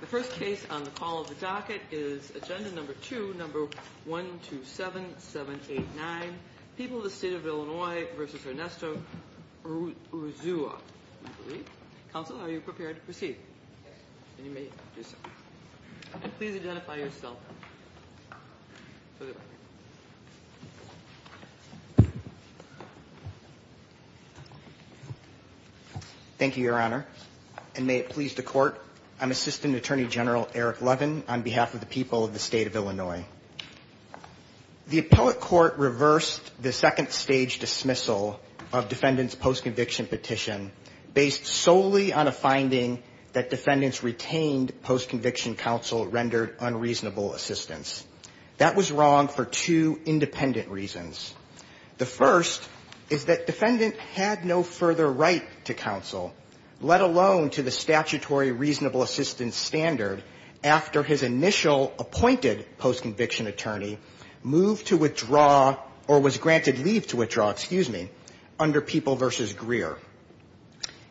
The first case on the call of the docket is agenda number two, number 127789, People of the State of Illinois v. Ernesto Urzua. Counsel, are you prepared to proceed? And please identify yourself. Thank you, Your Honor. And may it please the Court, I'm Assistant Attorney General Eric Levin on behalf of the people of the State of Illinois. The Appellate Court reversed the second-stage dismissal of defendants' post-conviction petition based solely on a That was wrong for two independent reasons. The first is that defendant had no further right to counsel, let alone to the statutory reasonable assistance standard after his initial appointed post-conviction attorney moved to withdraw or was granted leave to withdraw, excuse me, under People v. Greer.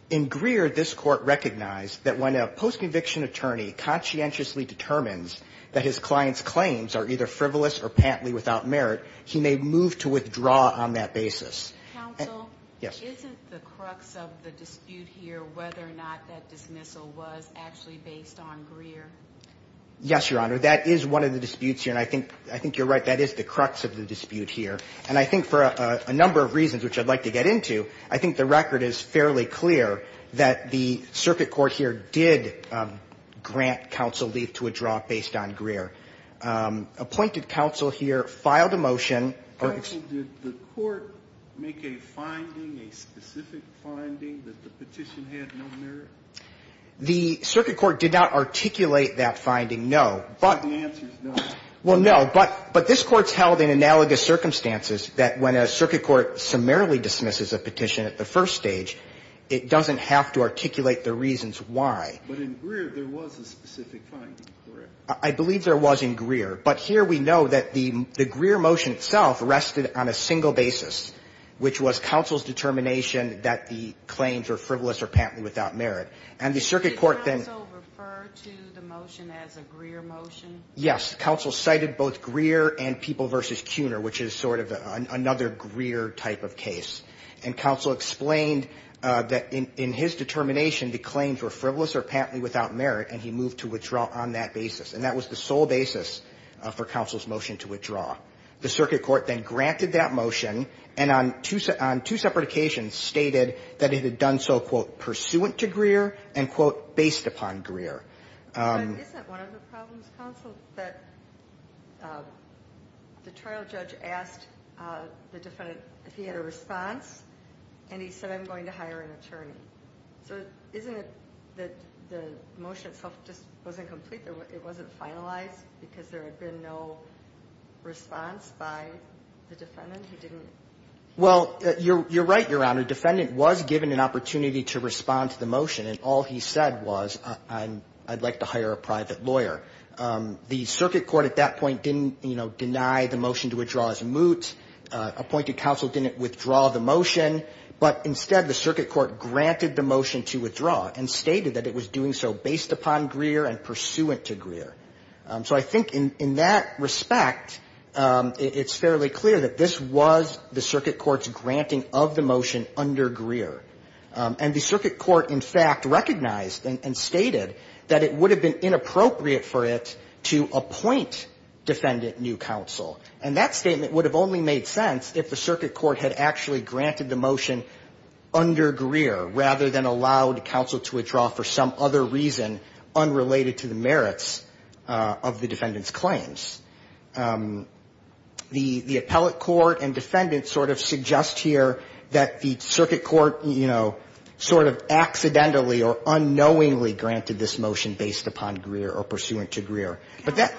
In Greer, this Court recognized that when a post-conviction attorney conscientiously determines that his client's claims are either frivolous or patently without merit, he may move to withdraw on that basis. Counsel? Yes. Isn't the crux of the dispute here whether or not that dismissal was actually based on Greer? Yes, Your Honor, that is one of the disputes here, and I think you're right, that is the crux of the dispute here. And I think for a number of reasons, which I'd like to get into, I think the record is fairly clear that the circuit court here did grant counsel leave to withdraw based on Greer. Appointed counsel here filed a motion. Counsel, did the court make a finding, a specific finding, that the petition had no merit? The circuit court did not articulate that finding, no. But the answer is no. Well, no, but this Court's held in analogous circumstances that when a circuit court summarily dismisses a petition at the first stage, it doesn't have to articulate the reasons why. But in Greer, there was a specific finding, correct? I believe there was in Greer. But here we know that the Greer motion itself rested on a single basis, which was counsel's determination that the claims were frivolous or patently without merit. And the circuit court then Did counsel refer to the motion as a Greer motion? Yes. Counsel cited both Greer and People v. Cuner, which is sort of another Greer type of case. And counsel explained that in his determination, the claims were frivolous or patently without merit, and he moved to withdraw on that basis. And that was the sole basis for counsel's motion to withdraw. The circuit court then granted that motion, and on two separate occasions stated that it had done so, quote, pursuant to Greer, and, quote, based upon Greer. But isn't one of the problems, counsel, that the trial judge asked the defendant if he had a response, and he said, I'm going to hire an attorney. So isn't it that the motion itself just wasn't complete? It wasn't finalized because there had been no response by the defendant? He didn't... Well, you're right, Your Honor. Defendant was given an opportunity to The circuit court at that point didn't, you know, deny the motion to withdraw as moot. Appointed counsel didn't withdraw the motion. But instead, the circuit court granted the motion to withdraw and stated that it was doing so based upon Greer and pursuant to Greer. So I think in that respect, it's fairly clear that this was the circuit court's granting of the motion under Greer. And the circuit court, in fact, recognized and stated that it was a Greer motion. That it would have been inappropriate for it to appoint defendant new counsel. And that statement would have only made sense if the circuit court had actually granted the motion under Greer rather than allowed counsel to withdraw for some other reason unrelated to the merits of the defendant's claims. The appellate court and defendant sort of suggest here that the circuit court, you know, sort of accidentally or unknowingly granted this motion based upon Greer or pursuant to Greer. But that...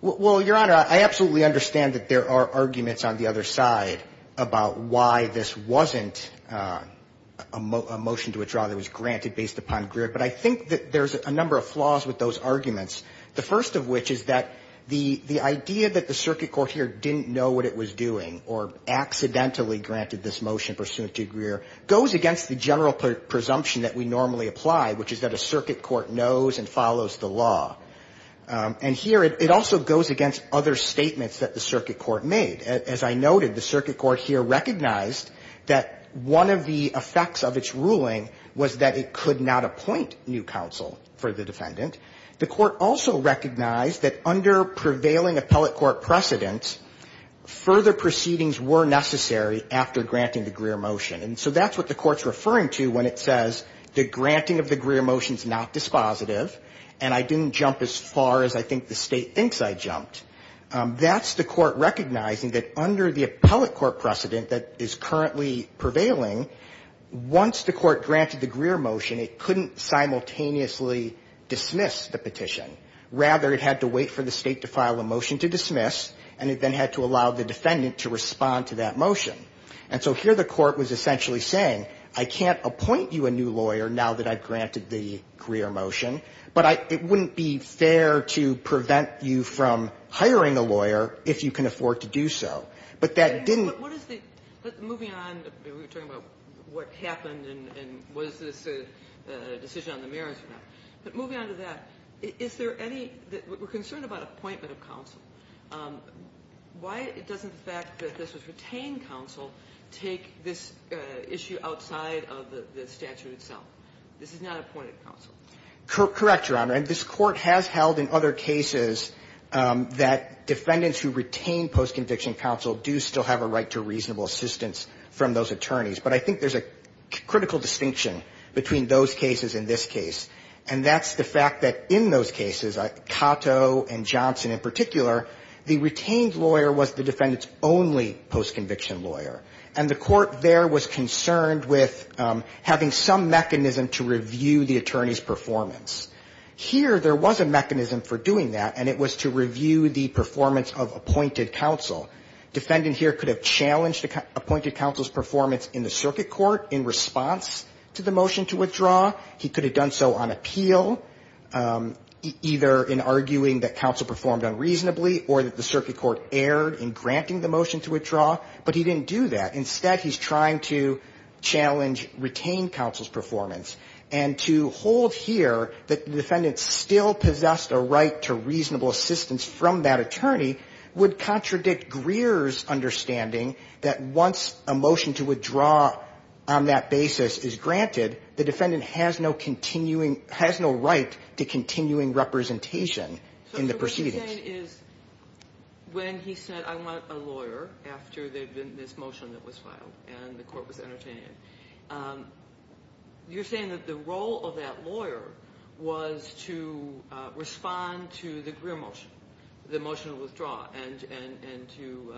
Well, Your Honor, I absolutely understand that there are arguments on the other side about why this wasn't a motion to withdraw that was granted based upon Greer. But I think that there's a number of flaws with those arguments. The first of which is that the idea that the circuit court here didn't know what it was doing or accidentally granted this motion pursuant to Greer goes against the general presumption that we normally apply, which is that a circuit court knows and follows the law. And here it also goes against other statements that the circuit court made. As I noted, the circuit court here recognized that one of the effects of its ruling was that it could not appoint new counsel for the defendant. The court also recognized that under prevailing appellate court precedence, further proceedings were necessary after granting the Greer motion. And so that's what the court's referring to when it says the granting of the Greer motion's not dispositive, and I didn't jump as far as I think the State thinks I jumped. That's the court recognizing that under the appellate court precedent that is currently prevailing, once the court granted the Greer motion, it couldn't simultaneously dismiss the petition. Rather, it had to wait for the State to file a motion to dismiss, and it then had to allow the defendant to respond to that motion. And so here the court was essentially saying, I can't appoint you a new lawyer now that I've granted the Greer motion, but it wouldn't be fair to prevent you from hiring a lawyer if you can afford to do so. But that didn't – But what is the – moving on, we were talking about what happened and was this a decision on the merits or not. But moving on to that, is there any – we're concerned about appointment of counsel. Why doesn't the fact that this was retained counsel take this issue outside of the statute itself? This is not appointed counsel. Correct, Your Honor. And this Court has held in other cases that defendants who retain post-conviction counsel do still have a right to reasonable assistance from those attorneys. But I think there's a critical distinction between those cases and this case, and that's the fact that in those cases, Cato and Johnson in particular, the retained lawyer was the defendant's only post-conviction lawyer. And the court there was concerned with having some mechanism to review the attorney's performance. Here, there was a mechanism for doing that, and it was to review the performance of appointed counsel. Defendant here could have challenged appointed counsel's performance in the circuit court in response to the motion to withdraw. He could have done so on appeal, either in arguing that counsel performed unreasonably or that the circuit court erred in granting the motion to withdraw. But he didn't do that. Instead, he's trying to challenge retained counsel's performance. And to hold here that the defendant still possessed a right to reasonable assistance from that attorney would contradict Greer's understanding that once a motion to withdraw on that basis is granted, the defendant has no continuing – has no right to continuing representation in the proceedings. What you're saying is when he said, I want a lawyer, after this motion that was filed and the court was entertained, you're saying that the role of that lawyer was to respond to the Greer motion, the motion to withdraw, and to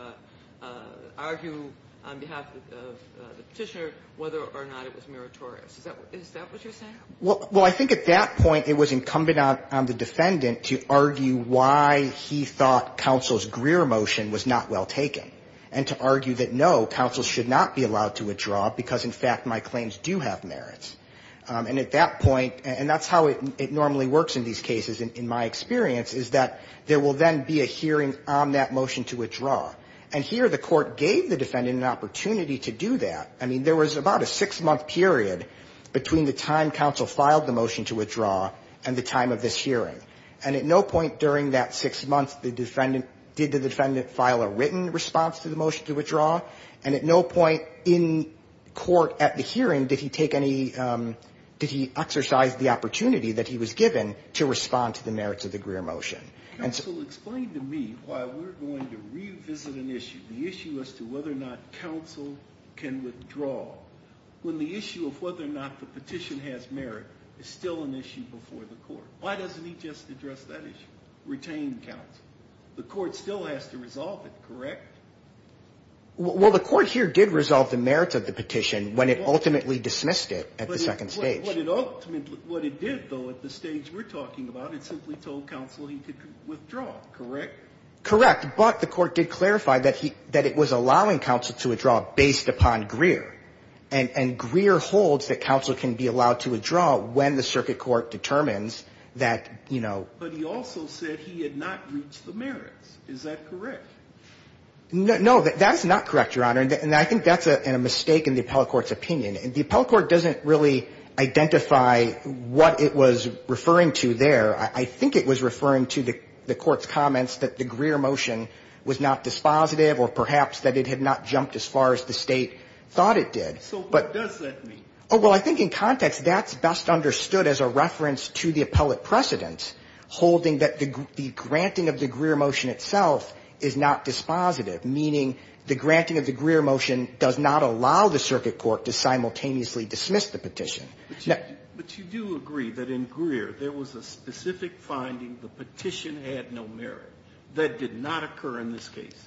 argue on behalf of the Petitioner whether or not it was meritorious. Is that what you're saying? Well, I think at that point it was incumbent on the defendant to argue why he thought counsel's Greer motion was not well taken, and to argue that, no, counsel should not be allowed to withdraw because, in fact, my claims do have merits. And at that point, and that's how it normally works in these cases in my experience, is that there will then be a hearing on that motion to withdraw. And here the Court gave the defendant an opportunity to do that. I mean, there was about a six-month period between the time counsel filed the motion to withdraw and the time of this hearing. And at no point during that six months did the defendant file a written response to the motion to withdraw. And at no point in court at the hearing did he take any – did he exercise the opportunity that he was given to respond to the merits of the Greer motion. Counsel, explain to me why we're going to revisit an issue, the issue as to whether or not counsel can withdraw, when the issue of whether or not the petition has merit is still an issue before the Court. Why doesn't he just address that issue, retain counsel? The Court still has to resolve it, correct? Well, the Court here did resolve the merits of the petition when it ultimately dismissed it at the second stage. But what it ultimately – what it did, though, at the stage we're talking about, it simply told counsel he could withdraw, correct? Correct. But the Court did clarify that he – that it was allowing counsel to withdraw based upon Greer. And Greer holds that counsel can be allowed to withdraw when the circuit court determines that, you know – But he also said he had not reached the merits. Is that correct? No. That's not correct, Your Honor. And I think that's a mistake in the appellate court's opinion. The appellate court doesn't really identify what it was referring to there. I think it was referring to the Court's comments that the Greer motion was not dispositive or perhaps that it had not jumped as far as the State thought it did. So what does that mean? Oh, well, I think in context that's best understood as a reference to the appellate precedent holding that the granting of the Greer motion itself is not dispositive, meaning the granting of the Greer motion does not allow the circuit court to simultaneously dismiss the petition. But you do agree that in Greer there was a specific finding, the petition had no merit, that did not occur in this case?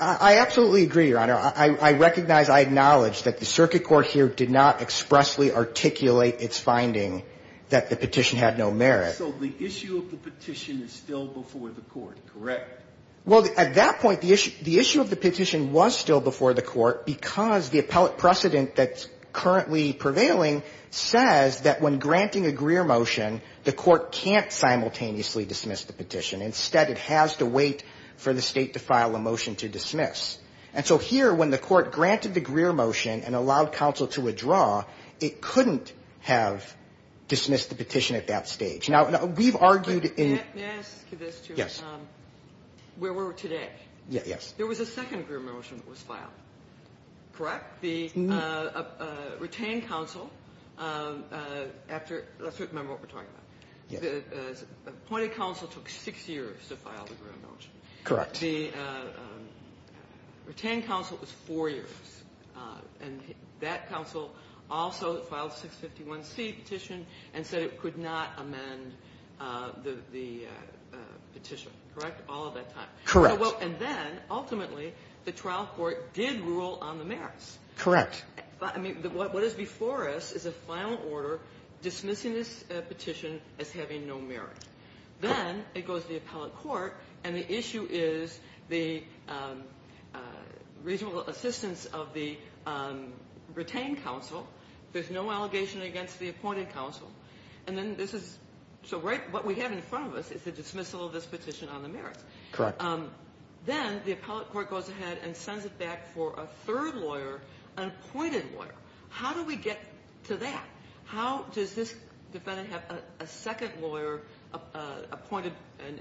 I absolutely agree, Your Honor. I recognize, I acknowledge that the circuit court here did not expressly articulate its finding that the petition had no merit. So the issue of the petition is still before the court, correct? Well, at that point, the issue of the petition was still before the court because the appellate precedent that's currently prevailing says that when granting a Greer motion, the court can't simultaneously dismiss the petition. Instead, it has to wait for the State to file a motion to dismiss. And so here, when the court granted the Greer motion and allowed counsel to withdraw, it couldn't have dismissed the petition at that stage. Now, we've argued in – May I ask this, too? Yes. Where we're today, there was a second Greer motion that was filed, correct? Correct. The retained counsel, after – let's remember what we're talking about. Yes. The appointed counsel took six years to file the Greer motion. Correct. The retained counsel was four years, and that counsel also filed 651C petition and said it could not amend the petition, correct, all of that time? Correct. And then, ultimately, the trial court did rule on the merits. Correct. I mean, what is before us is a final order dismissing this petition as having no merit. Then it goes to the appellate court, and the issue is the reasonable assistance of the retained counsel. There's no allegation against the appointed counsel. And then this is – so right – what we have in front of us is the dismissal of this petition on the merits. Correct. Then the appellate court goes ahead and sends it back for a third lawyer, an appointed lawyer. How do we get to that? How does this defendant have a second lawyer appointed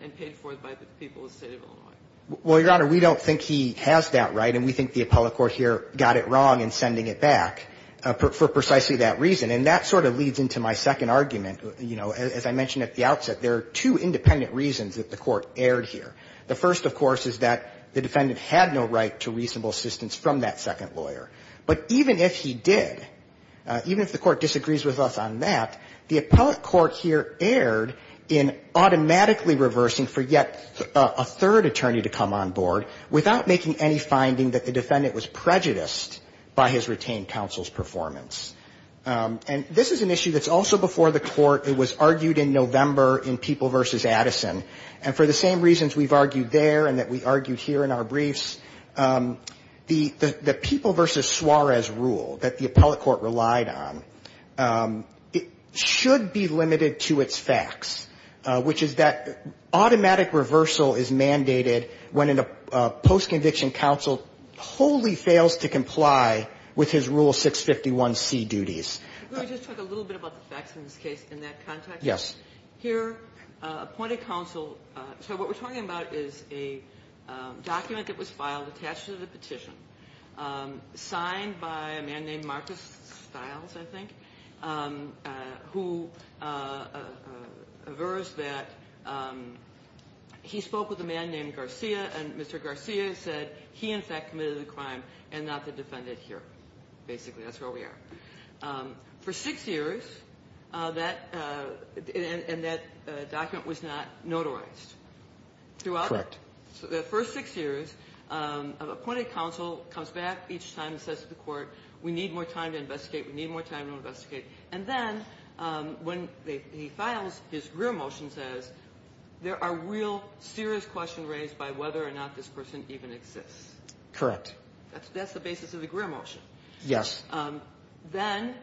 and paid for by the people of the State of Illinois? Well, Your Honor, we don't think he has that right, and we think the appellate court here got it wrong in sending it back for precisely that reason. And that sort of leads into my second argument. You know, as I mentioned at the outset, there are two independent reasons that the Court erred here. The first, of course, is that the defendant had no right to reasonable assistance from that second lawyer. But even if he did, even if the Court disagrees with us on that, the appellate court here erred in automatically reversing for yet a third attorney to come on board without making any finding that the defendant was prejudiced by his retained counsel's performance. And this is an issue that's also before the Court. It was argued in November in People v. Addison. And for the same reasons we've argued there and that we argued here in our briefs, the People v. Suarez rule that the appellate court relied on, it should be limited to its facts, which is that automatic reversal is mandated when a post-conviction counsel wholly fails to comply with his Rule 651C duties. Let me just talk a little bit about the facts in this case in that context. Yes. Here, appointed counsel. So what we're talking about is a document that was filed attached to the petition signed by a man named Marcus Stiles, I think, who aversed that. He spoke with a man named Garcia, and Mr. Garcia said he, in fact, committed the crime and not the defendant here. Basically, that's where we are. For six years, that and that document was not notarized. Correct. Throughout the first six years, appointed counsel comes back each time and says to the Court, we need more time to investigate. We need more time to investigate. And then, when he files, his rear motion says, there are real serious questions raised by whether or not this person even exists. Correct. That's the basis of the rear motion. Yes. Then,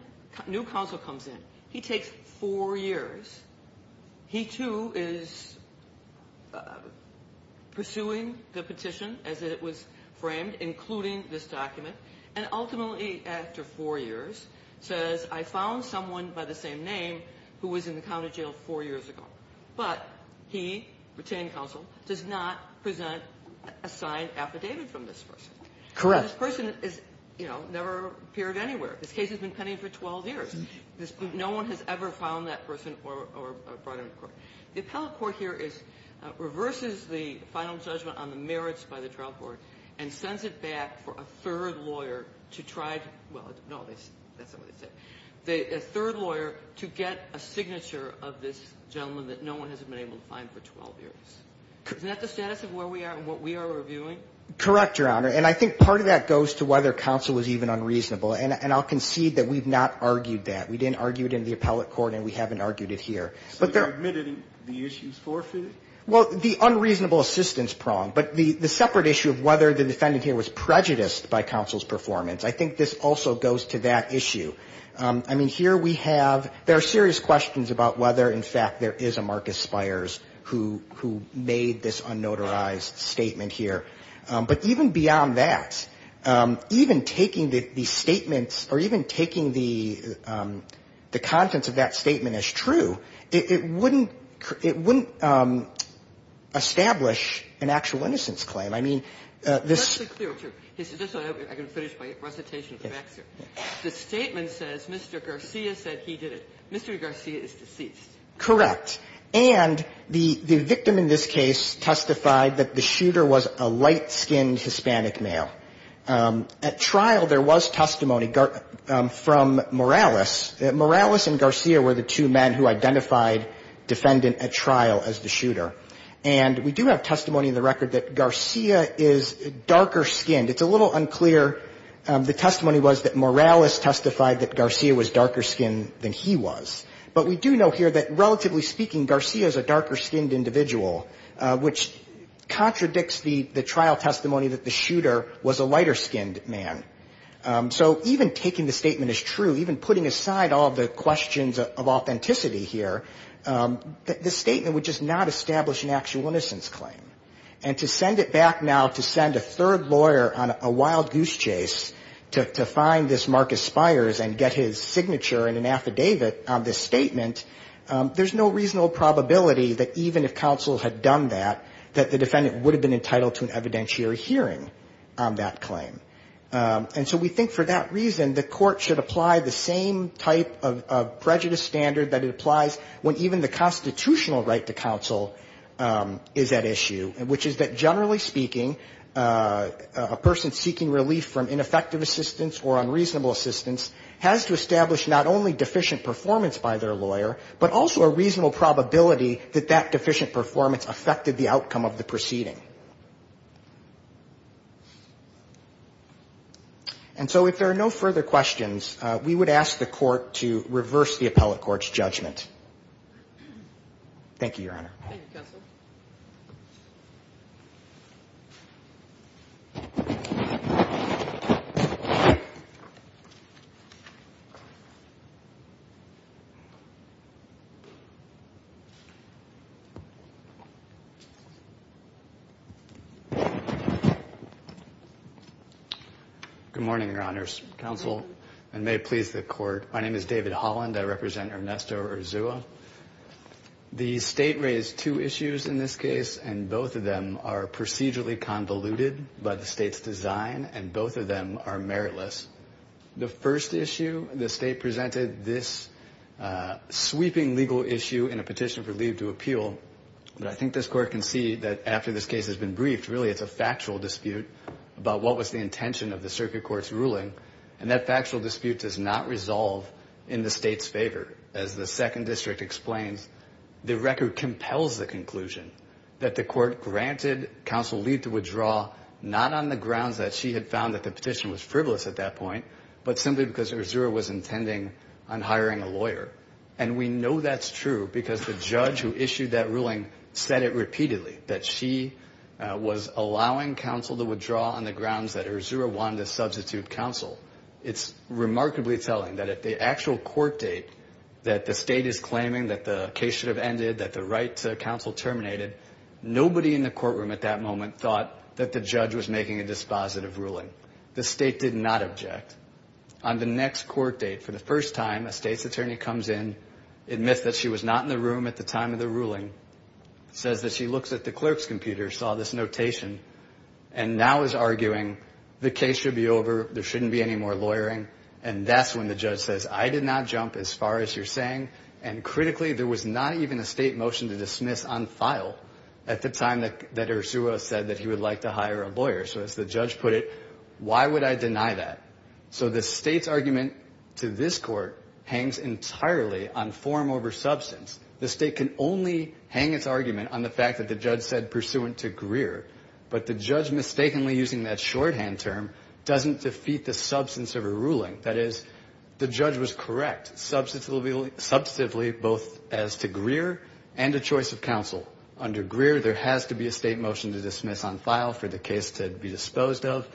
new counsel comes in. He takes four years. He, too, is pursuing the petition as it was framed, including this document, and ultimately, after four years, says, I found someone by the same name who was in the county jail four years ago. But he, retained counsel, does not present a signed affidavit from this person. Correct. This person is, you know, never appeared anywhere. This case has been pending for 12 years. No one has ever found that person or brought him to court. The appellate court here reverses the final judgment on the merits by the trial court and sends it back for a third lawyer to try to, well, no, that's not what they said, a third lawyer to get a signature of this gentleman that no one has been able to find for 12 years. Is that the status of where we are and what we are reviewing? Correct, Your Honor. And I think part of that goes to whether counsel was even unreasonable. And I'll concede that we've not argued that. We didn't argue it in the appellate court, and we haven't argued it here. So you're admitting the issue is forfeited? Well, the unreasonable assistance prong. But the separate issue of whether the defendant here was prejudiced by counsel's performance, I think this also goes to that issue. I mean, here we have, there are serious questions about whether, in fact, there is a Marcus Spires who made this unnotarized statement here. But even beyond that, even taking the statements or even taking the contents of that statement as true, it wouldn't establish an actual innocence claim. I mean, this ---- Just to be clear, too. Just so I can finish my recitation of the facts here. The statement says Mr. Garcia said he did it. Mr. Garcia is deceased. Correct. And the victim in this case testified that the shooter was a light-skinned Hispanic male. At trial, there was testimony from Morales. Morales and Garcia were the two men who identified defendant at trial as the shooter. And we do have testimony in the record that Garcia is darker-skinned. It's a little unclear. The testimony was that Morales testified that Garcia was darker-skinned than he was. But we do know here that, relatively speaking, Garcia is a darker-skinned individual, which contradicts the trial testimony that the shooter was a lighter-skinned man. So even taking the statement as true, even putting aside all the questions of authenticity here, the statement would just not establish an actual innocence claim. And to send it back now to send a third lawyer on a wild goose chase to find this Marcus Spires and get his signature and an affidavit on this statement, there's no reasonable probability that even if counsel had done that, that the defendant would have been entitled to an evidentiary hearing on that claim. And so we think for that reason, the court should apply the same type of prejudice standard that it applies when even the constitutional right to counsel is at issue, which is that, generally speaking, a person seeking relief from ineffective assistance or unreasonable assistance has to establish not only deficient performance by their lawyer, but also a reasonable probability that that deficient performance affected the outcome of the proceeding. And so if there are no further questions, we would ask the court to reverse the appellate court's judgment. Thank you, Your Honor. Good morning, Your Honors. Counsel, and may it please the court, my name is David Holland. I represent Ernesto Urzua. The state raised two issues in this case, and both of them are procedurally convoluted by the state's design, and both of them are meritless. The first issue, the state presented this sweeping legal issue in a petition for leave to appeal. But I think this court can see that after this case has been briefed, really it's a factual dispute about what was the intention of the circuit court's ruling, and that factual dispute does not resolve in the state's favor. As the second district explains, the record compels the conclusion that the court granted counsel leave to withdraw not on the grounds that she had found that the petition was frivolous at that point, but simply because Urzua was intending on hiring a lawyer. And we know that's true because the judge who issued that ruling said it repeatedly, that she was allowing counsel to withdraw on the grounds that Urzua wanted to substitute counsel. It's remarkably telling that at the actual court date that the state is claiming that the case should have ended, that the right to counsel terminated, nobody in the courtroom at that moment thought that the judge was making a dispositive ruling. The state did not object. On the next court date, for the first time, a state's attorney comes in, admits that she was not in the room at the time of the ruling, says that she looks at the clerk's computer, saw this notation, and now is arguing the case should be over, there shouldn't be any more lawyering, and that's when the judge says, I did not jump as far as you're saying, and critically, there was not even a state motion to dismiss on file at the time that Urzua said that he would like to hire a lawyer. So as the judge put it, why would I deny that? So the state's argument to this court hangs entirely on form over substance. The state can only hang its argument on the fact that the judge said pursuant to Greer, but the judge mistakenly using that shorthand term doesn't defeat the substance of a ruling. That is, the judge was correct, substantively both as to Greer and a choice of counsel. Under Greer, there has to be a state motion to dismiss on file for the case to be disposed of,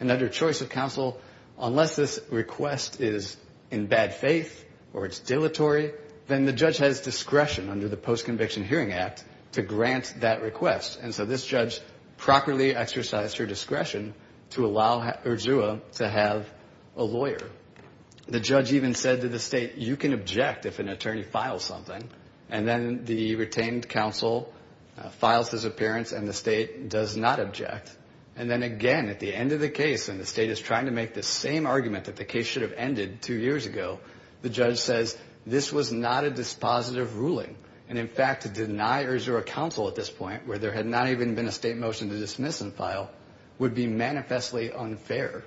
and under choice of counsel, unless this request is in bad faith or it's dilatory, then the judge has discretion under the Post-Conviction Hearing Act to grant that request. And so this judge properly exercised her discretion to allow Urzua to have a lawyer. The judge even said to the state, you can object if an attorney files something. And then the retained counsel files his appearance and the state does not object. And then again, at the end of the case, and the state is trying to make the same argument that the case should have ended two years ago, the judge says, this was not a dispositive ruling. And in fact, to deny Urzua counsel at this point, where there had not even been a state motion to dismiss on file, would be manifestly unfair.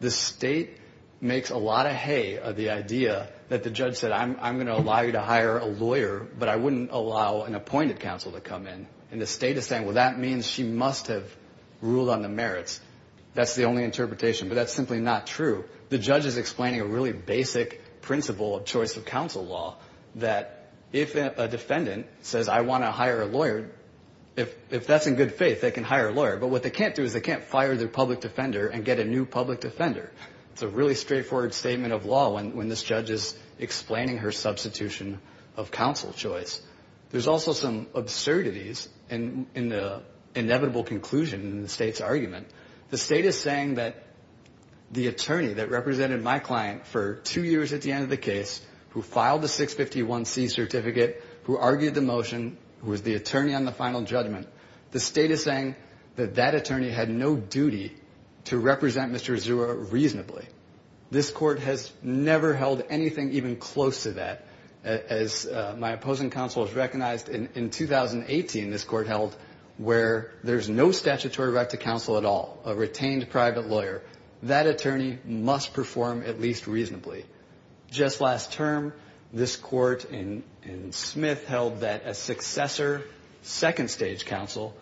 The state makes a lot of hay of the idea that the judge said, I'm going to allow you to hire a lawyer, but I wouldn't allow an appointed counsel to come in. And the state is saying, well, that means she must have ruled on the merits. That's the only interpretation. But that's simply not true. The judge is explaining a really basic principle of choice of counsel law, that if a defendant says, I want to hire a lawyer, but what they can't do is they can't fire their public defender and get a new public defender. It's a really straightforward statement of law when this judge is explaining her substitution of counsel choice. There's also some absurdities in the inevitable conclusion in the state's argument. The state is saying that the attorney that represented my client for two years at the end of the case, who filed the 651C certificate, who argued the motion, who was the attorney on the final judgment, the state is saying that that attorney had no duty to represent Mr. Azura reasonably. This court has never held anything even close to that. As my opposing counsel has recognized, in 2018, this court held where there's no statutory right to counsel at all. A retained private lawyer. That attorney must perform at least reasonably. Just last term, this court in Smith held that a successor, second stage counsel,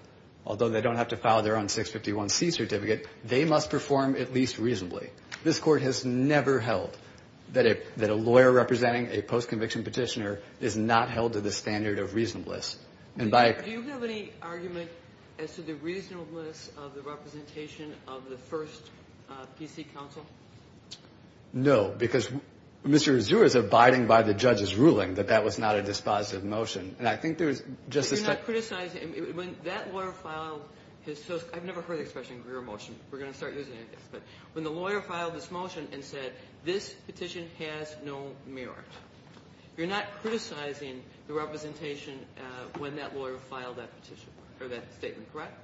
although they don't have to file their own 651C certificate, they must perform at least reasonably. This court has never held that a lawyer representing a post-conviction petitioner is not held to the standard of reasonableness. Do you have any argument as to the reasonableness of the representation of the first PC counsel? No, because Mr. Azura is abiding by the judge's ruling that that was not a dispositive motion. And I think there's just a... But you're not criticizing. When that lawyer filed his... I've never heard the expression, your motion. We're going to start using it, I guess. But when the lawyer filed this motion and said, this petition has no merit, you're not criticizing the representation when that lawyer filed that petition, or that statement, correct?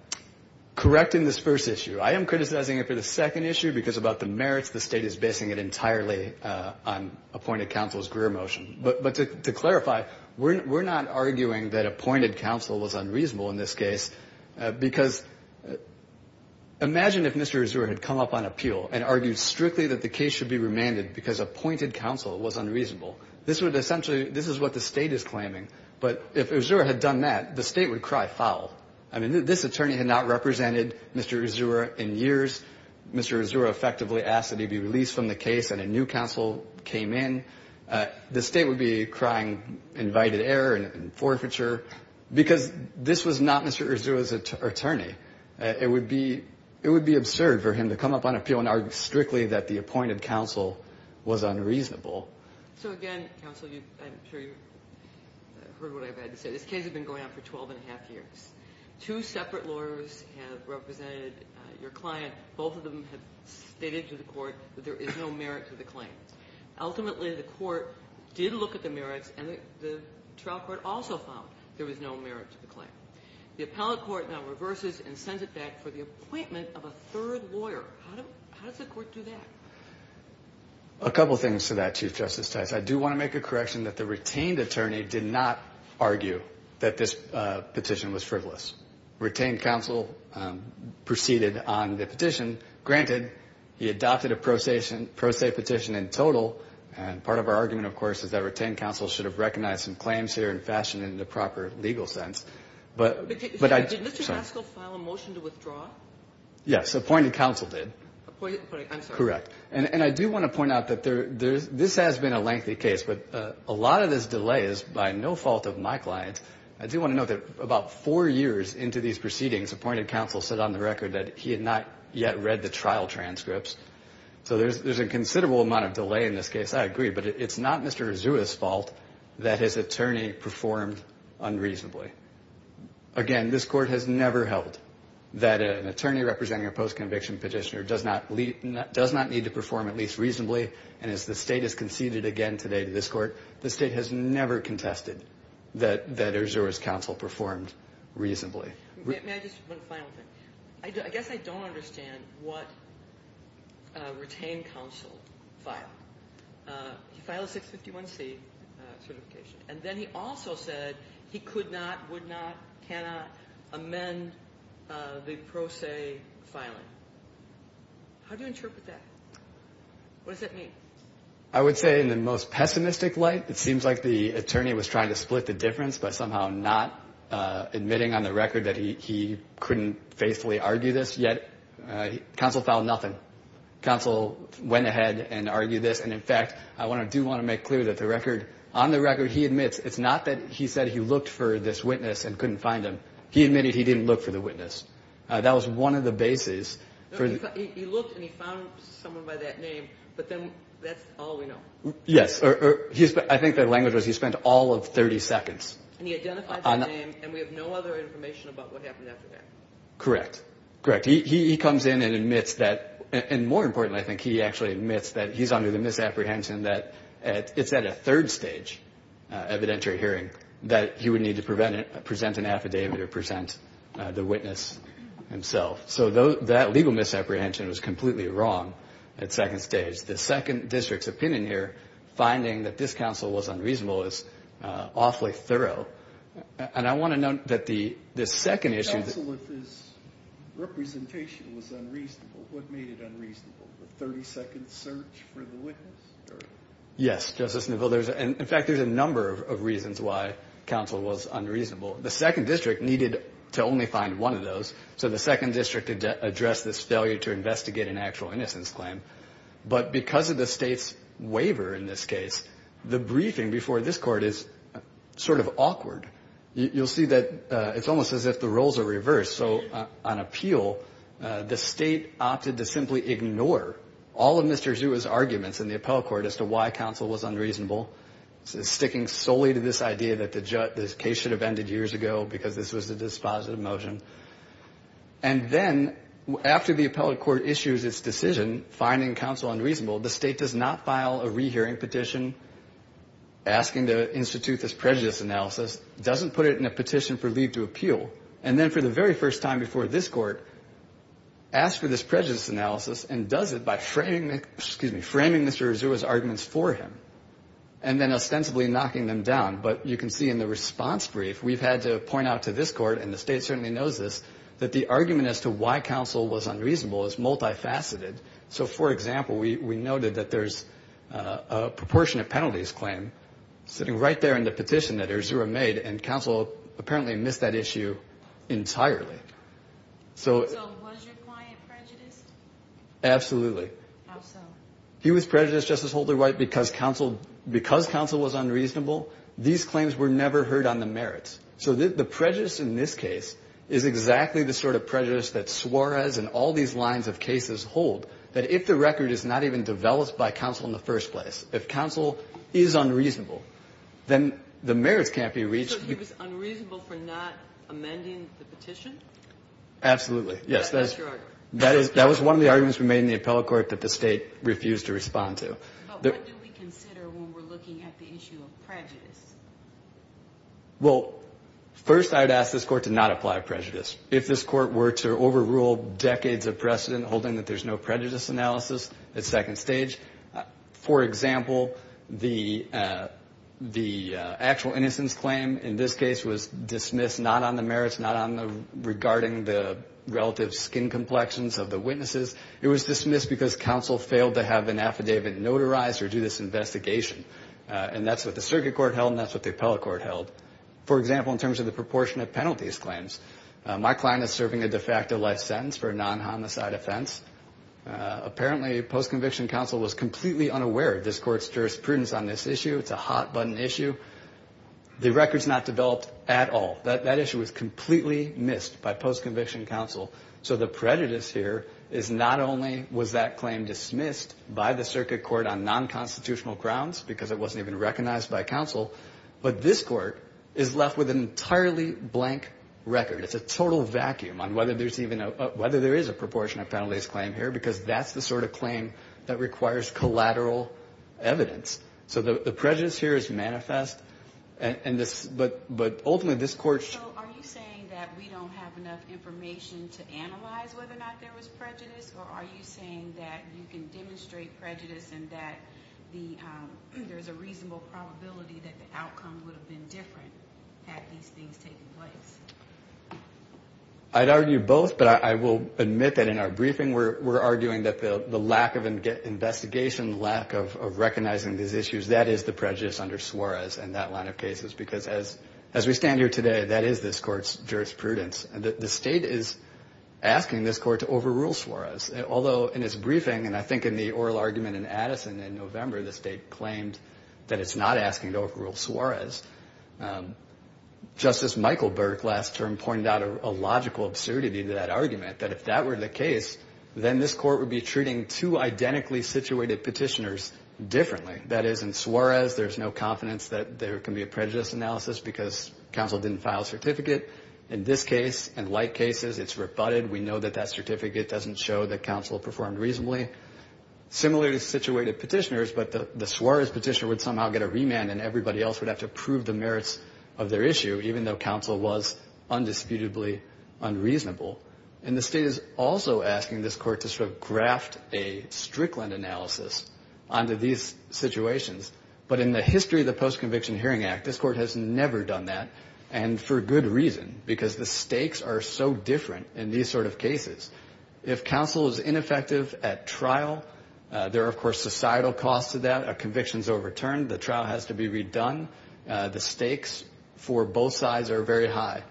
Correct in this first issue. I am criticizing it for the second issue, because about the merits, the State is basing it entirely on appointed counsel's Greer motion. But to clarify, we're not arguing that appointed counsel was unreasonable in this case, because imagine if Mr. Azura had come up on appeal and argued strictly that the case should be remanded because appointed counsel was unreasonable. This would essentially... This is what the State is claiming. But if Azura had done that, the State would cry foul. I mean, this attorney had not represented Mr. Azura in years. Mr. Azura effectively asked that he be released from the case, and a new counsel came in. The State would be crying invited error and forfeiture, because this was not Mr. Azura's attorney. It would be absurd for him to come up on appeal and argue strictly that the appointed counsel was unreasonable. So again, counsel, I'm sure you've heard what I've had to say. This case had been going on for twelve and a half years. Two separate lawyers have represented your client. Both of them have stated to the court that there is no merit to the claim. Ultimately, the court did look at the merits, and the trial court also found there was no merit to the claim. The appellate court now reverses and sends it back for the appointment of a third lawyer. How does the court do that? A couple things to that, Chief Justice Tice. I do want to make a correction that the retained attorney did not argue that this retained counsel proceeded on the petition. Granted, he adopted a pro se petition in total, and part of our argument, of course, is that retained counsel should have recognized some claims here and fashioned it in the proper legal sense. But I... Yes, appointed counsel did. Correct. And I do want to point out that this has been a lengthy case, but a lot of this delay is by no fault of my clients. I do want to note that about four years into these proceedings, appointed counsel said on the record that he had not yet read the trial transcripts. So there's a considerable amount of delay in this case. I agree. But it's not Mr. Azua's fault that his attorney performed unreasonably. Again, this court has never held that an attorney representing a post-conviction petitioner does not need to perform at least reasonably. And as the state has conceded again today to this court, the state has never contested that Azua's counsel performed reasonably. May I just... One final thing. I guess I don't understand what retained counsel filed. He filed a 651C certification, and then he also said he could not, would not, cannot amend the pro se filing. How do you interpret that? What does that mean? I would say in the most pessimistic light, it seems like the attorney was trying to split the difference by somehow not admitting on the record that he couldn't faithfully argue this. Yet, counsel filed nothing. Counsel went ahead and argued this. And in fact, I do want to make clear that on the record he admits it's not that he said he looked for this witness and couldn't find him. He admitted he didn't look for the witness. That was one of the bases. He looked and he found someone by that name, but then that's all we know. Yes. I think the language was he spent all of 30 seconds. And he identified the name, and we have no other information about what happened after that. Correct. Correct. He comes in and admits that, and more importantly, I think he actually admits that he's under the misapprehension that it's at a third stage evidentiary hearing that he would need to present an affidavit or present the witness himself. So that would be the second stage. My legal misapprehension was completely wrong at second stage. The second district's opinion here, finding that this counsel was unreasonable, is awfully thorough. And I want to note that the second issue... Counsel, if his representation was unreasonable, what made it unreasonable? The 30 second search for the witness? Yes, Justice Neville. In fact, there's a number of reasons why counsel was unreasonable. The second district needed to only find one of those, so the second district addressed this failure to investigate an actual innocence claim. But because of the state's waiver in this case, the briefing before this court is sort of awkward. You'll see that it's almost as if the roles are reversed. So on appeal, the state opted to simply ignore all of Mr. Zua's arguments in the appellate court as to why counsel was unreasonable, sticking solely to this idea that the case should have ended years ago because this was a dispositive motion. And then, after the appellate court issues its decision, finding counsel unreasonable, the state does not file a rehearing petition asking to institute this prejudice analysis, doesn't put it in a petition for leave to appeal, and then for the very first time before this court, asks for this prejudice analysis and does it by framing Mr. Zua's arguments for him. And then ostensibly knocking them down, but you can see in the response brief, we've had to point out to this court, and the state certainly knows this, that the argument as to why counsel was unreasonable is multifaceted. So, for example, we noted that there's a proportionate penalties claim sitting right there in the petition that Erzurum made, and counsel apparently missed that issue entirely. So was your client prejudiced? Absolutely. How so? He was prejudiced, Justice Holder-White, because counsel was unreasonable. These claims were never heard on the merits. So the prejudice in this case is exactly the sort of prejudice that Suarez and all these lines of cases hold, that if the record is not even developed by counsel in the first place, if counsel is unreasonable, then the merits can't be reached. So he was unreasonable for not amending the petition? Absolutely, yes. That was one of the arguments we made in the appellate court that the state refused to respond to. But what do we consider when we're looking at the issue of prejudice? Well, first, I'd ask this court to not apply prejudice. If this court were to overrule decades of precedent holding that there's no prejudice analysis at second stage, for example, the actual innocence claim in this case was dismissed not on the merits, not on the rejection, but on the merits. And that's what the circuit court held, and that's what the appellate court held. For example, in terms of the proportion of penalties claims, my client is serving a de facto life sentence for a non-homicide offense. Apparently, post-conviction counsel was completely unaware of this court's jurisprudence on this issue. It's a hot-button issue. The record's not developed at all. That issue was completely missed by post-conviction counsel. So the prejudice here is not only was that claim dismissed by the circuit court on non-constitutional grounds, because it wasn't even recognized by counsel, but this court is left with an entirely blank record. It's a total vacuum on whether there is a proportion of penalties claim here, because that's the sort of claim that requires collateral evidence. So the prejudice here is manifest, but ultimately this court should... So are you saying that we don't have enough information to analyze whether or not there was prejudice, or are you saying that you can demonstrate prejudice and that there's a reasonable probability that the outcome would have been different had these things taken place? I'd argue both, but I will admit that in our briefing we're arguing that the lack of investigation, the lack of recognizing these issues, that is the prejudice under Suarez and that line of cases. Because as we stand here today, that is this court's jurisprudence. The state is asking this court to overrule Suarez, although in its briefing, and I think in the oral argument in Addison in November, the state claimed that it's not asking to overrule Suarez. Justice Michael Burke last term pointed out a logical absurdity to that argument, that if that were the case, then this court would be treating two identically situated petitioners differently. That is, in Suarez, there's no confidence that there can be a prejudice analysis because counsel didn't file a certificate. In this case, in like cases, it's rebutted. We know that that certificate doesn't show that counsel performed reasonably. Similarly situated petitioners, but the Suarez petitioner would somehow get a remand and everybody else would have to prove the merits of their issue, even though counsel was undisputedly unreasonable. And the state is also asking this court to sort of graft a Strickland analysis onto these situations. But in the history of the Post-Conviction Hearing Act, this court has never done that, and for good reason, because the stakes are so different in these sort of cases. If counsel is ineffective at trial, there are, of course, societal costs to that. A conviction is overturned. The trial has to be redone. The stakes for both sides are very high.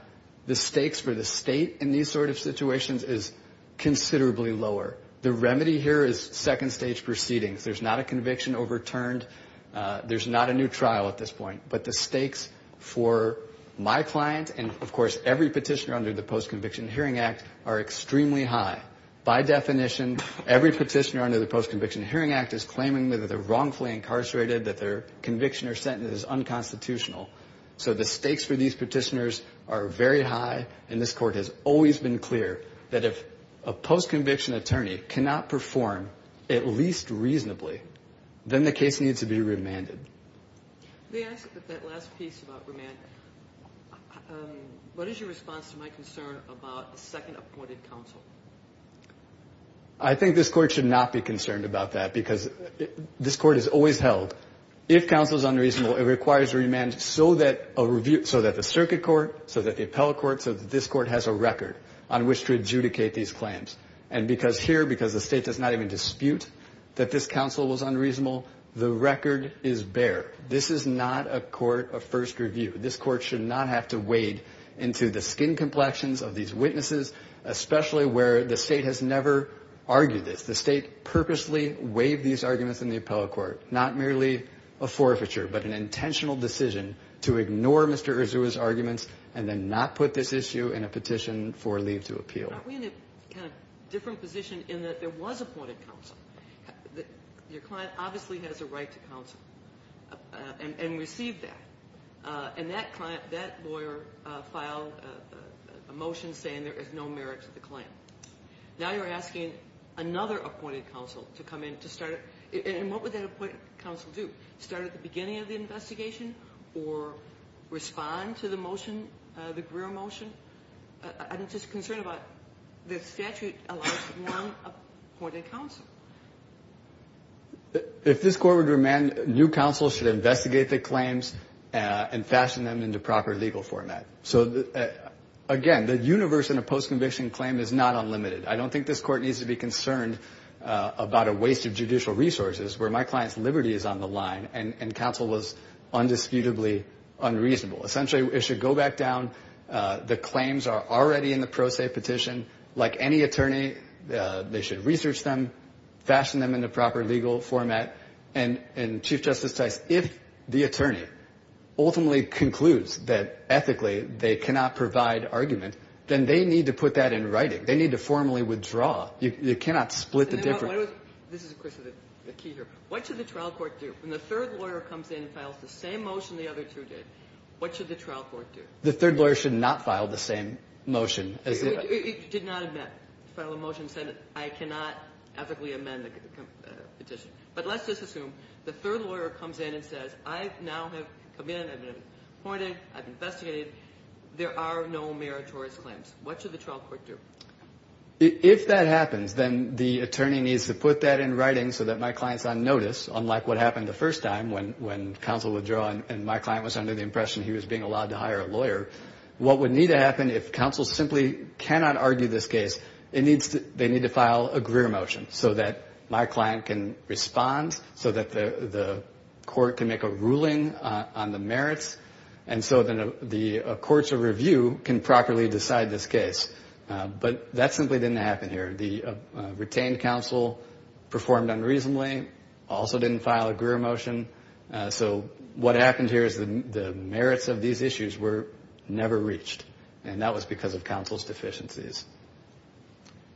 The stakes for the state in these sort of situations is considerably lower. The remedy here is second-stage proceedings. There's not a conviction overturned. There's not a new trial at this point. But the stakes for my client and, of course, every petitioner under the Post-Conviction Hearing Act are extremely high. By definition, every petitioner under the Post-Conviction Hearing Act is claiming that they're wrongfully incarcerated, that their conviction or sentence is unconstitutional. So the stakes for these petitioners are very high, and this court has always been clear that if a post-conviction attorney is convicted of a crime, and the attorney cannot perform, at least reasonably, then the case needs to be remanded. The last piece about remand, what is your response to my concern about a second appointed counsel? I think this court should not be concerned about that, because this court is always held. If counsel is unreasonable, it requires a remand so that the circuit court, so that the appellate court, so that this court has a record on which to adjudicate these claims. And because here, because the state does not even dispute that this counsel was unreasonable, the record is bare. This is not a court of first review. This court should not have to wade into the skin complexions of these witnesses, especially where the state has never argued this. The state purposely waived these arguments in the appellate court. Not merely a forfeiture, but an intentional decision to ignore Mr. Urzua's arguments and then not put this issue in a petition for leave to appeal. Aren't we in a kind of different position in that there was appointed counsel? Your client obviously has a right to counsel and received that. And that lawyer filed a motion saying there is no merit to the claim. Now you're asking another appointed counsel to come in to start, and what would that appointed counsel do? Start at the beginning of the investigation or respond to the motion, the Greer motion? I'm just concerned about the statute allows for non-appointed counsel. If this court would remand, new counsel should investigate the claims and fashion them into proper legal format. So again, the universe in a post-conviction claim is not unlimited. I don't think this court needs to be concerned about a waste of judicial resources where my client's liberty is on the line and counsel was undisputably unreasonable. Essentially it should go back down, the claims are already in the pro se petition. Like any attorney, they should research them, fashion them into proper legal format. And Chief Justice Tice, if the attorney ultimately concludes that ethically they cannot provide argument, then they need to put that in writing. They need to formally withdraw. You cannot split the difference. This is, of course, the key here. What should the trial court do? When the third lawyer comes in and files the same motion the other two did, what should the trial court do? The third lawyer should not file the same motion. It did not file a motion saying I cannot ethically amend the petition. But let's just assume the third lawyer comes in and says, I now have come in, I've been appointed, I've investigated, there are no meritorious claims. What should the trial court do? If that happens, then the attorney needs to put that in writing so that my client's on notice, unlike what happened the first time when counsel withdrew and my client was under the impression he was being allowed to hire a lawyer. What would need to happen if counsel simply cannot argue this case, they need to file a Greer motion so that my client can respond, so that the court can make a ruling on the merits, and so that the courts of review can properly decide this case. But that simply didn't happen here. The retained counsel performed unreasonably, also didn't file a Greer motion, so what happened here is the merits of these issues were never reached, and that was because of counsel's deficiencies.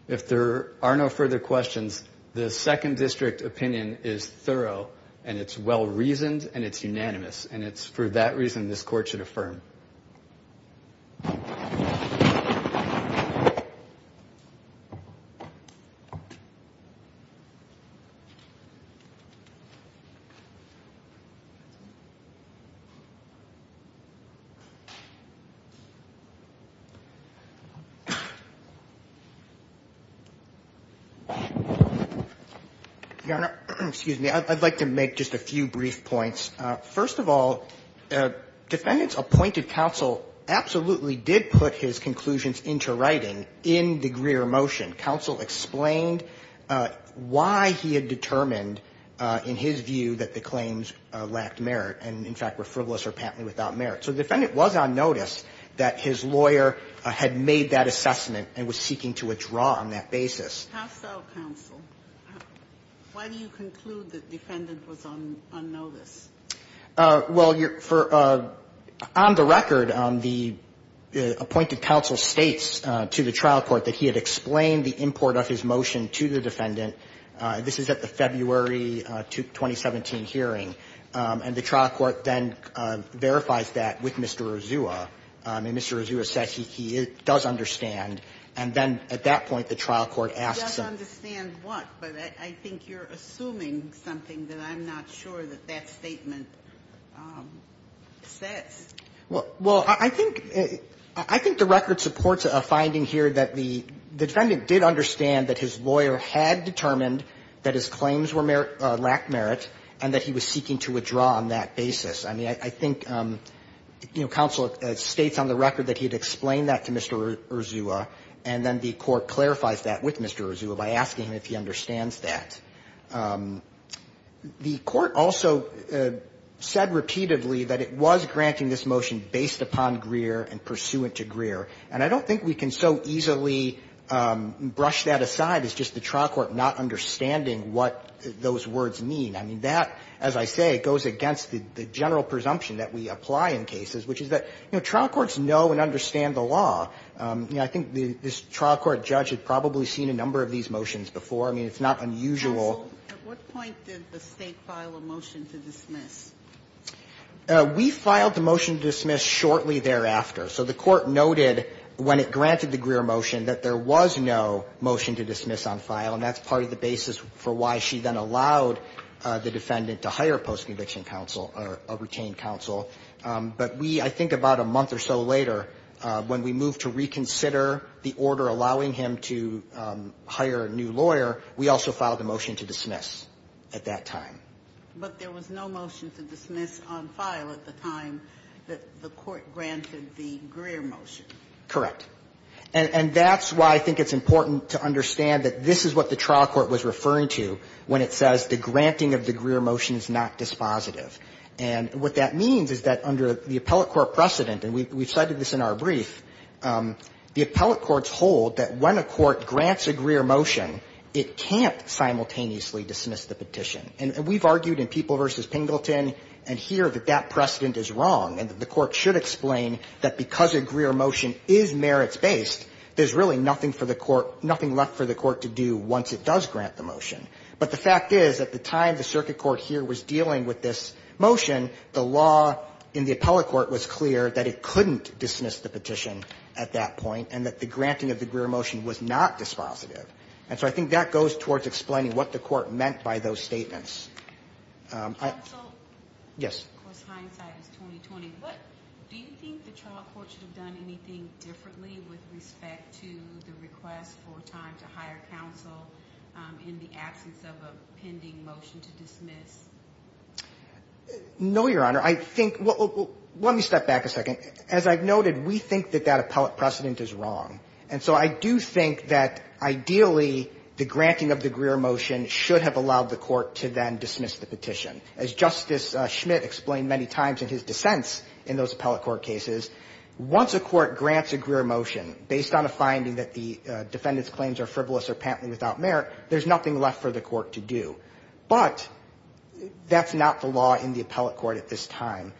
If there are no further questions, the second district opinion is thorough, and it's well-reasoned, and it's unanimous, and it's for that reason this court should affirm. Thank you. Your Honor, excuse me, I'd like to make just a few brief points. First of all, defendants appointed counsel absolutely did put his conclusions into writing in the Greer motion. Counsel explained why he had determined, in his view, that the claims lacked merit, and in fact were frivolous or patently without merit. So the defendant was on notice that his lawyer had made that assessment and was seeking to withdraw on that basis. How so, counsel? Well, on the record, the appointed counsel states to the trial court that he had explained the import of his motion to the defendant. This is at the February 2017 hearing, and the trial court then verifies that with Mr. Ozuah. And Mr. Ozuah says he does understand, and then at that point the trial court asks him. He does understand what? What the defendant says. Well, I think the record supports a finding here that the defendant did understand that his lawyer had determined that his claims lacked merit and that he was seeking to withdraw on that basis. I mean, I think counsel states on the record that he had explained that to Mr. Ozuah, and then the court clarifies that with Mr. Ozuah by asking him if he understands that. The court also said repeatedly that it was granting this motion based upon Greer and pursuant to Greer, and I don't think we can so easily brush that aside as just the trial court not understanding what those words mean. I mean, that, as I say, goes against the general presumption that we apply in cases, which is that, you know, trial courts know and understand the law. I think this trial court judge had probably seen a number of these motions before. I mean, it's not unusual. Counsel, at what point did the State file a motion to dismiss? We filed the motion to dismiss shortly thereafter. So the court noted when it granted the Greer motion that there was no motion to dismiss on file, and that's part of the basis for why she then allowed the defendant to hire a post-conviction counsel or a retained counsel. But we, I think about a month or so later, when we moved to reconsider the order allowing him to hire a new lawyer, we also filed a motion to dismiss at that time. But there was no motion to dismiss on file at the time that the court granted the Greer motion. Correct. And that's why I think it's important to understand that this is what the trial court was referring to when it says the granting of the Greer motion is not dispositive. And what that means is that under the appellate court precedent, and we cited this in our brief, the appellate courts hold that when a court grants a Greer motion, it can't simultaneously dismiss the petition. And we've argued in People v. Pingleton and here that that precedent is wrong, and that the court should explain that because a Greer motion is merits-based, there's really nothing for the court, nothing left for the court to do once it does grant the motion. But the fact is, at the time the circuit court here was dealing with this motion, the law in the appellate court was clear that it couldn't dismiss the petition at that point, and that the granting of the Greer motion was not dispositive. And so I think that goes towards explaining what the court meant by those statements. Counsel? Yes. Of course, hindsight is 20-20. But do you think the trial court should have done anything differently with respect to the request for time to hire counsel in the absence of a pending motion to dismiss? No, Your Honor. I think we'll – let me step back a second. As I've noted, we think that that appellate precedent is wrong. And so I do think that ideally the granting of the Greer motion should have allowed the court to then dismiss the petition. As Justice Schmitt explained many times in his dissents in those appellate court cases, once a court grants a Greer motion based on a finding that the defendant's claims are frivolous or patently without merit, there's nothing left for the court to do. But that's not the law in the appellate court at this time.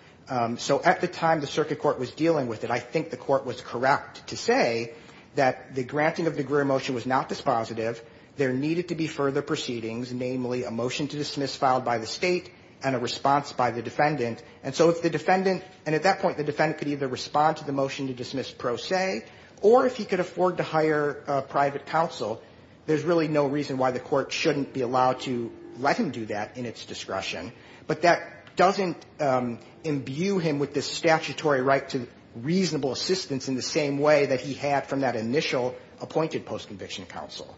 So at the time the circuit court was dealing with it, I think the court was correct to say that the granting of the Greer motion was not dispositive. There needed to be further proceedings, namely a motion to dismiss filed by the State and a response by the defendant. And so if the defendant – and at that point, the defendant could either respond to the motion to dismiss pro se, or if he could afford to hire private counsel, there's really no reason why the court shouldn't be allowed to let him do that in its discretion. But that doesn't imbue him with the statutory right to reasonable assistance in the same way that he had from that initial appointed postconviction counsel.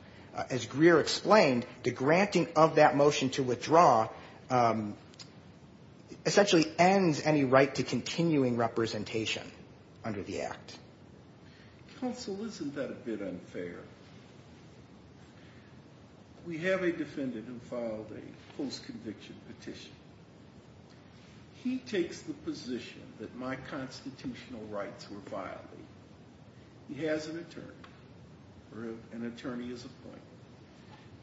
As Greer explained, the granting of that motion to withdraw essentially ends any right to continuing representation under the Act. Counsel, isn't that a bit unfair? We have a defendant who filed a postconviction petition. He takes the position that my constitutional rights were violated. He has an attorney, or an attorney is appointed.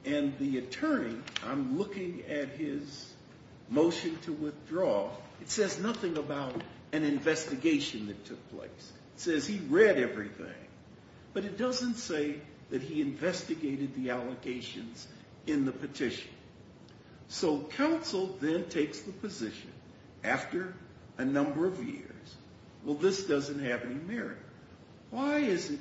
And the attorney, I'm looking at his motion to withdraw. It says nothing about an investigation that took place. It says he read everything. But it doesn't say that he investigated the allocations in the petition. So counsel then takes the position, after a number of years, well, this doesn't have any merit. Why is it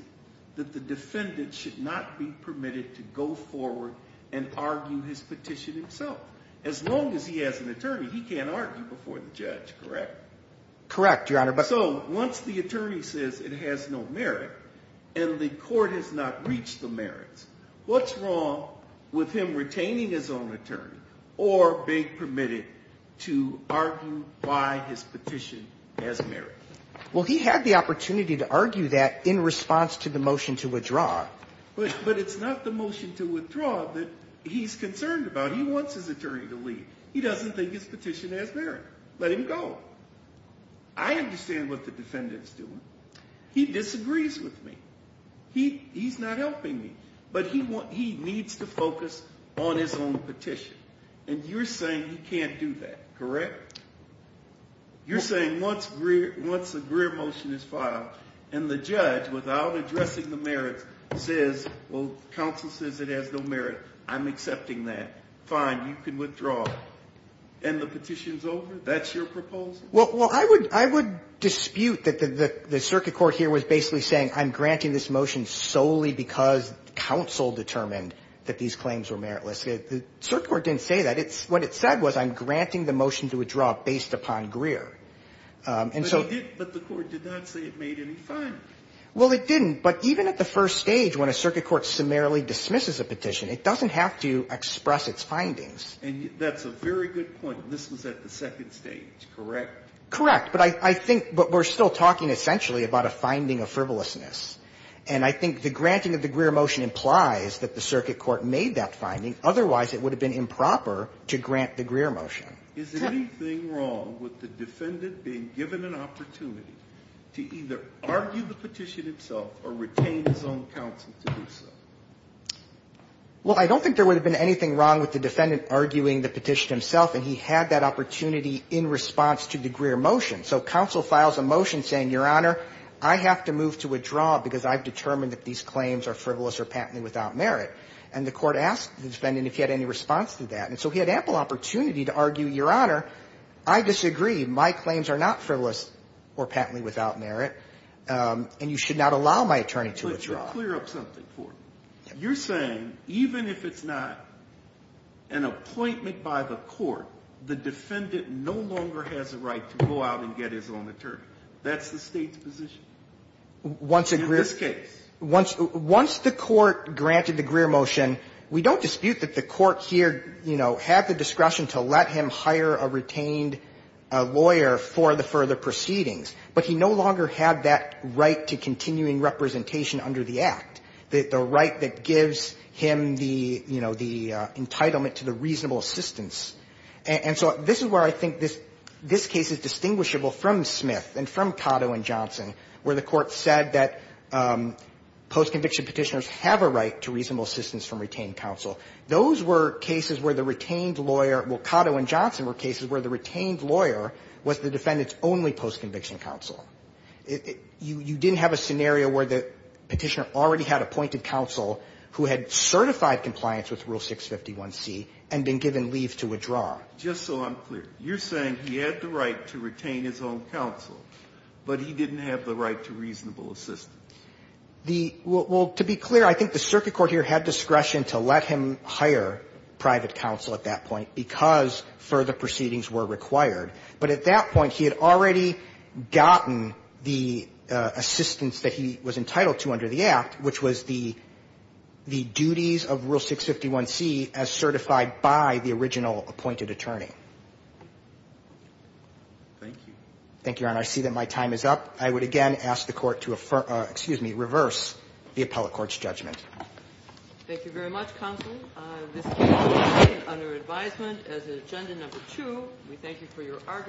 that the defendant should not be permitted to go forward and argue his petition himself? As long as he has an attorney, he can't argue before the judge, correct? Correct, Your Honor. So once the attorney says it has no merit and the court has not reached the merits, what's wrong with him retaining his own attorney or being permitted to argue why his petition has merit? Well, he had the opportunity to argue that in response to the motion to withdraw. But it's not the motion to withdraw that he's concerned about. He wants his attorney to leave. He doesn't think his petition has merit. Let him go. I understand what the defendant's doing. He disagrees with me. He's not helping me. But he needs to focus on his own petition. And you're saying he can't do that, correct? You're saying once the Greer motion is filed and the judge, without addressing the merits, says, well, counsel says it has no merit, I'm accepting that. Fine, you can withdraw. And the petition's over? That's your proposal? Well, I would dispute that the circuit court here was basically saying I'm granting this motion solely because counsel determined that these claims were meritless. The circuit court didn't say that. What it said was I'm granting the motion to withdraw based upon Greer. But the court did not say it made any findings. Well, it didn't. But even at the first stage, when a circuit court summarily dismisses a petition, it doesn't have to express its findings. And that's a very good point. This was at the second stage, correct? Correct. But I think we're still talking essentially about a finding of frivolousness. And I think the granting of the Greer motion implies that the circuit court made that finding. Otherwise, it would have been improper to grant the Greer motion. Is anything wrong with the defendant being given an opportunity to either argue the petition himself or retain his own counsel to do so? Well, I don't think there would have been anything wrong with the defendant arguing the petition himself, and he had that opportunity in response to the Greer motion. So counsel files a motion saying, Your Honor, I have to move to withdraw because I've determined that these claims are frivolous or patently without merit. And the court asked the defendant if he had any response to that. And so he had ample opportunity to argue, Your Honor, I disagree. My claims are not frivolous or patently without merit, and you should not allow my attorney to withdraw. Let me clear up something for you. You're saying even if it's not an appointment by the court, the defendant no longer has a right to go out and get his own attorney. That's the State's position? In this case. Once the court granted the Greer motion, we don't dispute that the court here, you know, had the discretion to let him hire a retained lawyer for the further proceedings, but he no longer had that right to continuing representation under the Act, the right that gives him the, you know, the entitlement to the reasonable assistance. And so this is where I think this case is distinguishable from Smith and from Cotto and Johnson, where the court said that postconviction Petitioners have a right to reasonable assistance from retained counsel. Those were cases where the retained lawyer – well, Cotto and Johnson were cases where the retained lawyer was the defendant's only postconviction counsel. You didn't have a scenario where the Petitioner already had appointed counsel who had certified compliance with Rule 651C and been given leave to withdraw. Just so I'm clear. You're saying he had the right to retain his own counsel, but he didn't have the right to reasonable assistance. The – well, to be clear, I think the circuit court here had discretion to let him hire private counsel at that point because further proceedings were required. But at that point, he had already gotten the assistance that he was entitled to under the Act, which was the duties of Rule 651C as certified by the original appointed attorney. Thank you, Your Honor. I see that my time is up. I would again ask the Court to reverse the appellate court's judgment. Thank you very much, counsel. This case is adjourned under advisement as in Agenda No. 2. We thank you for your –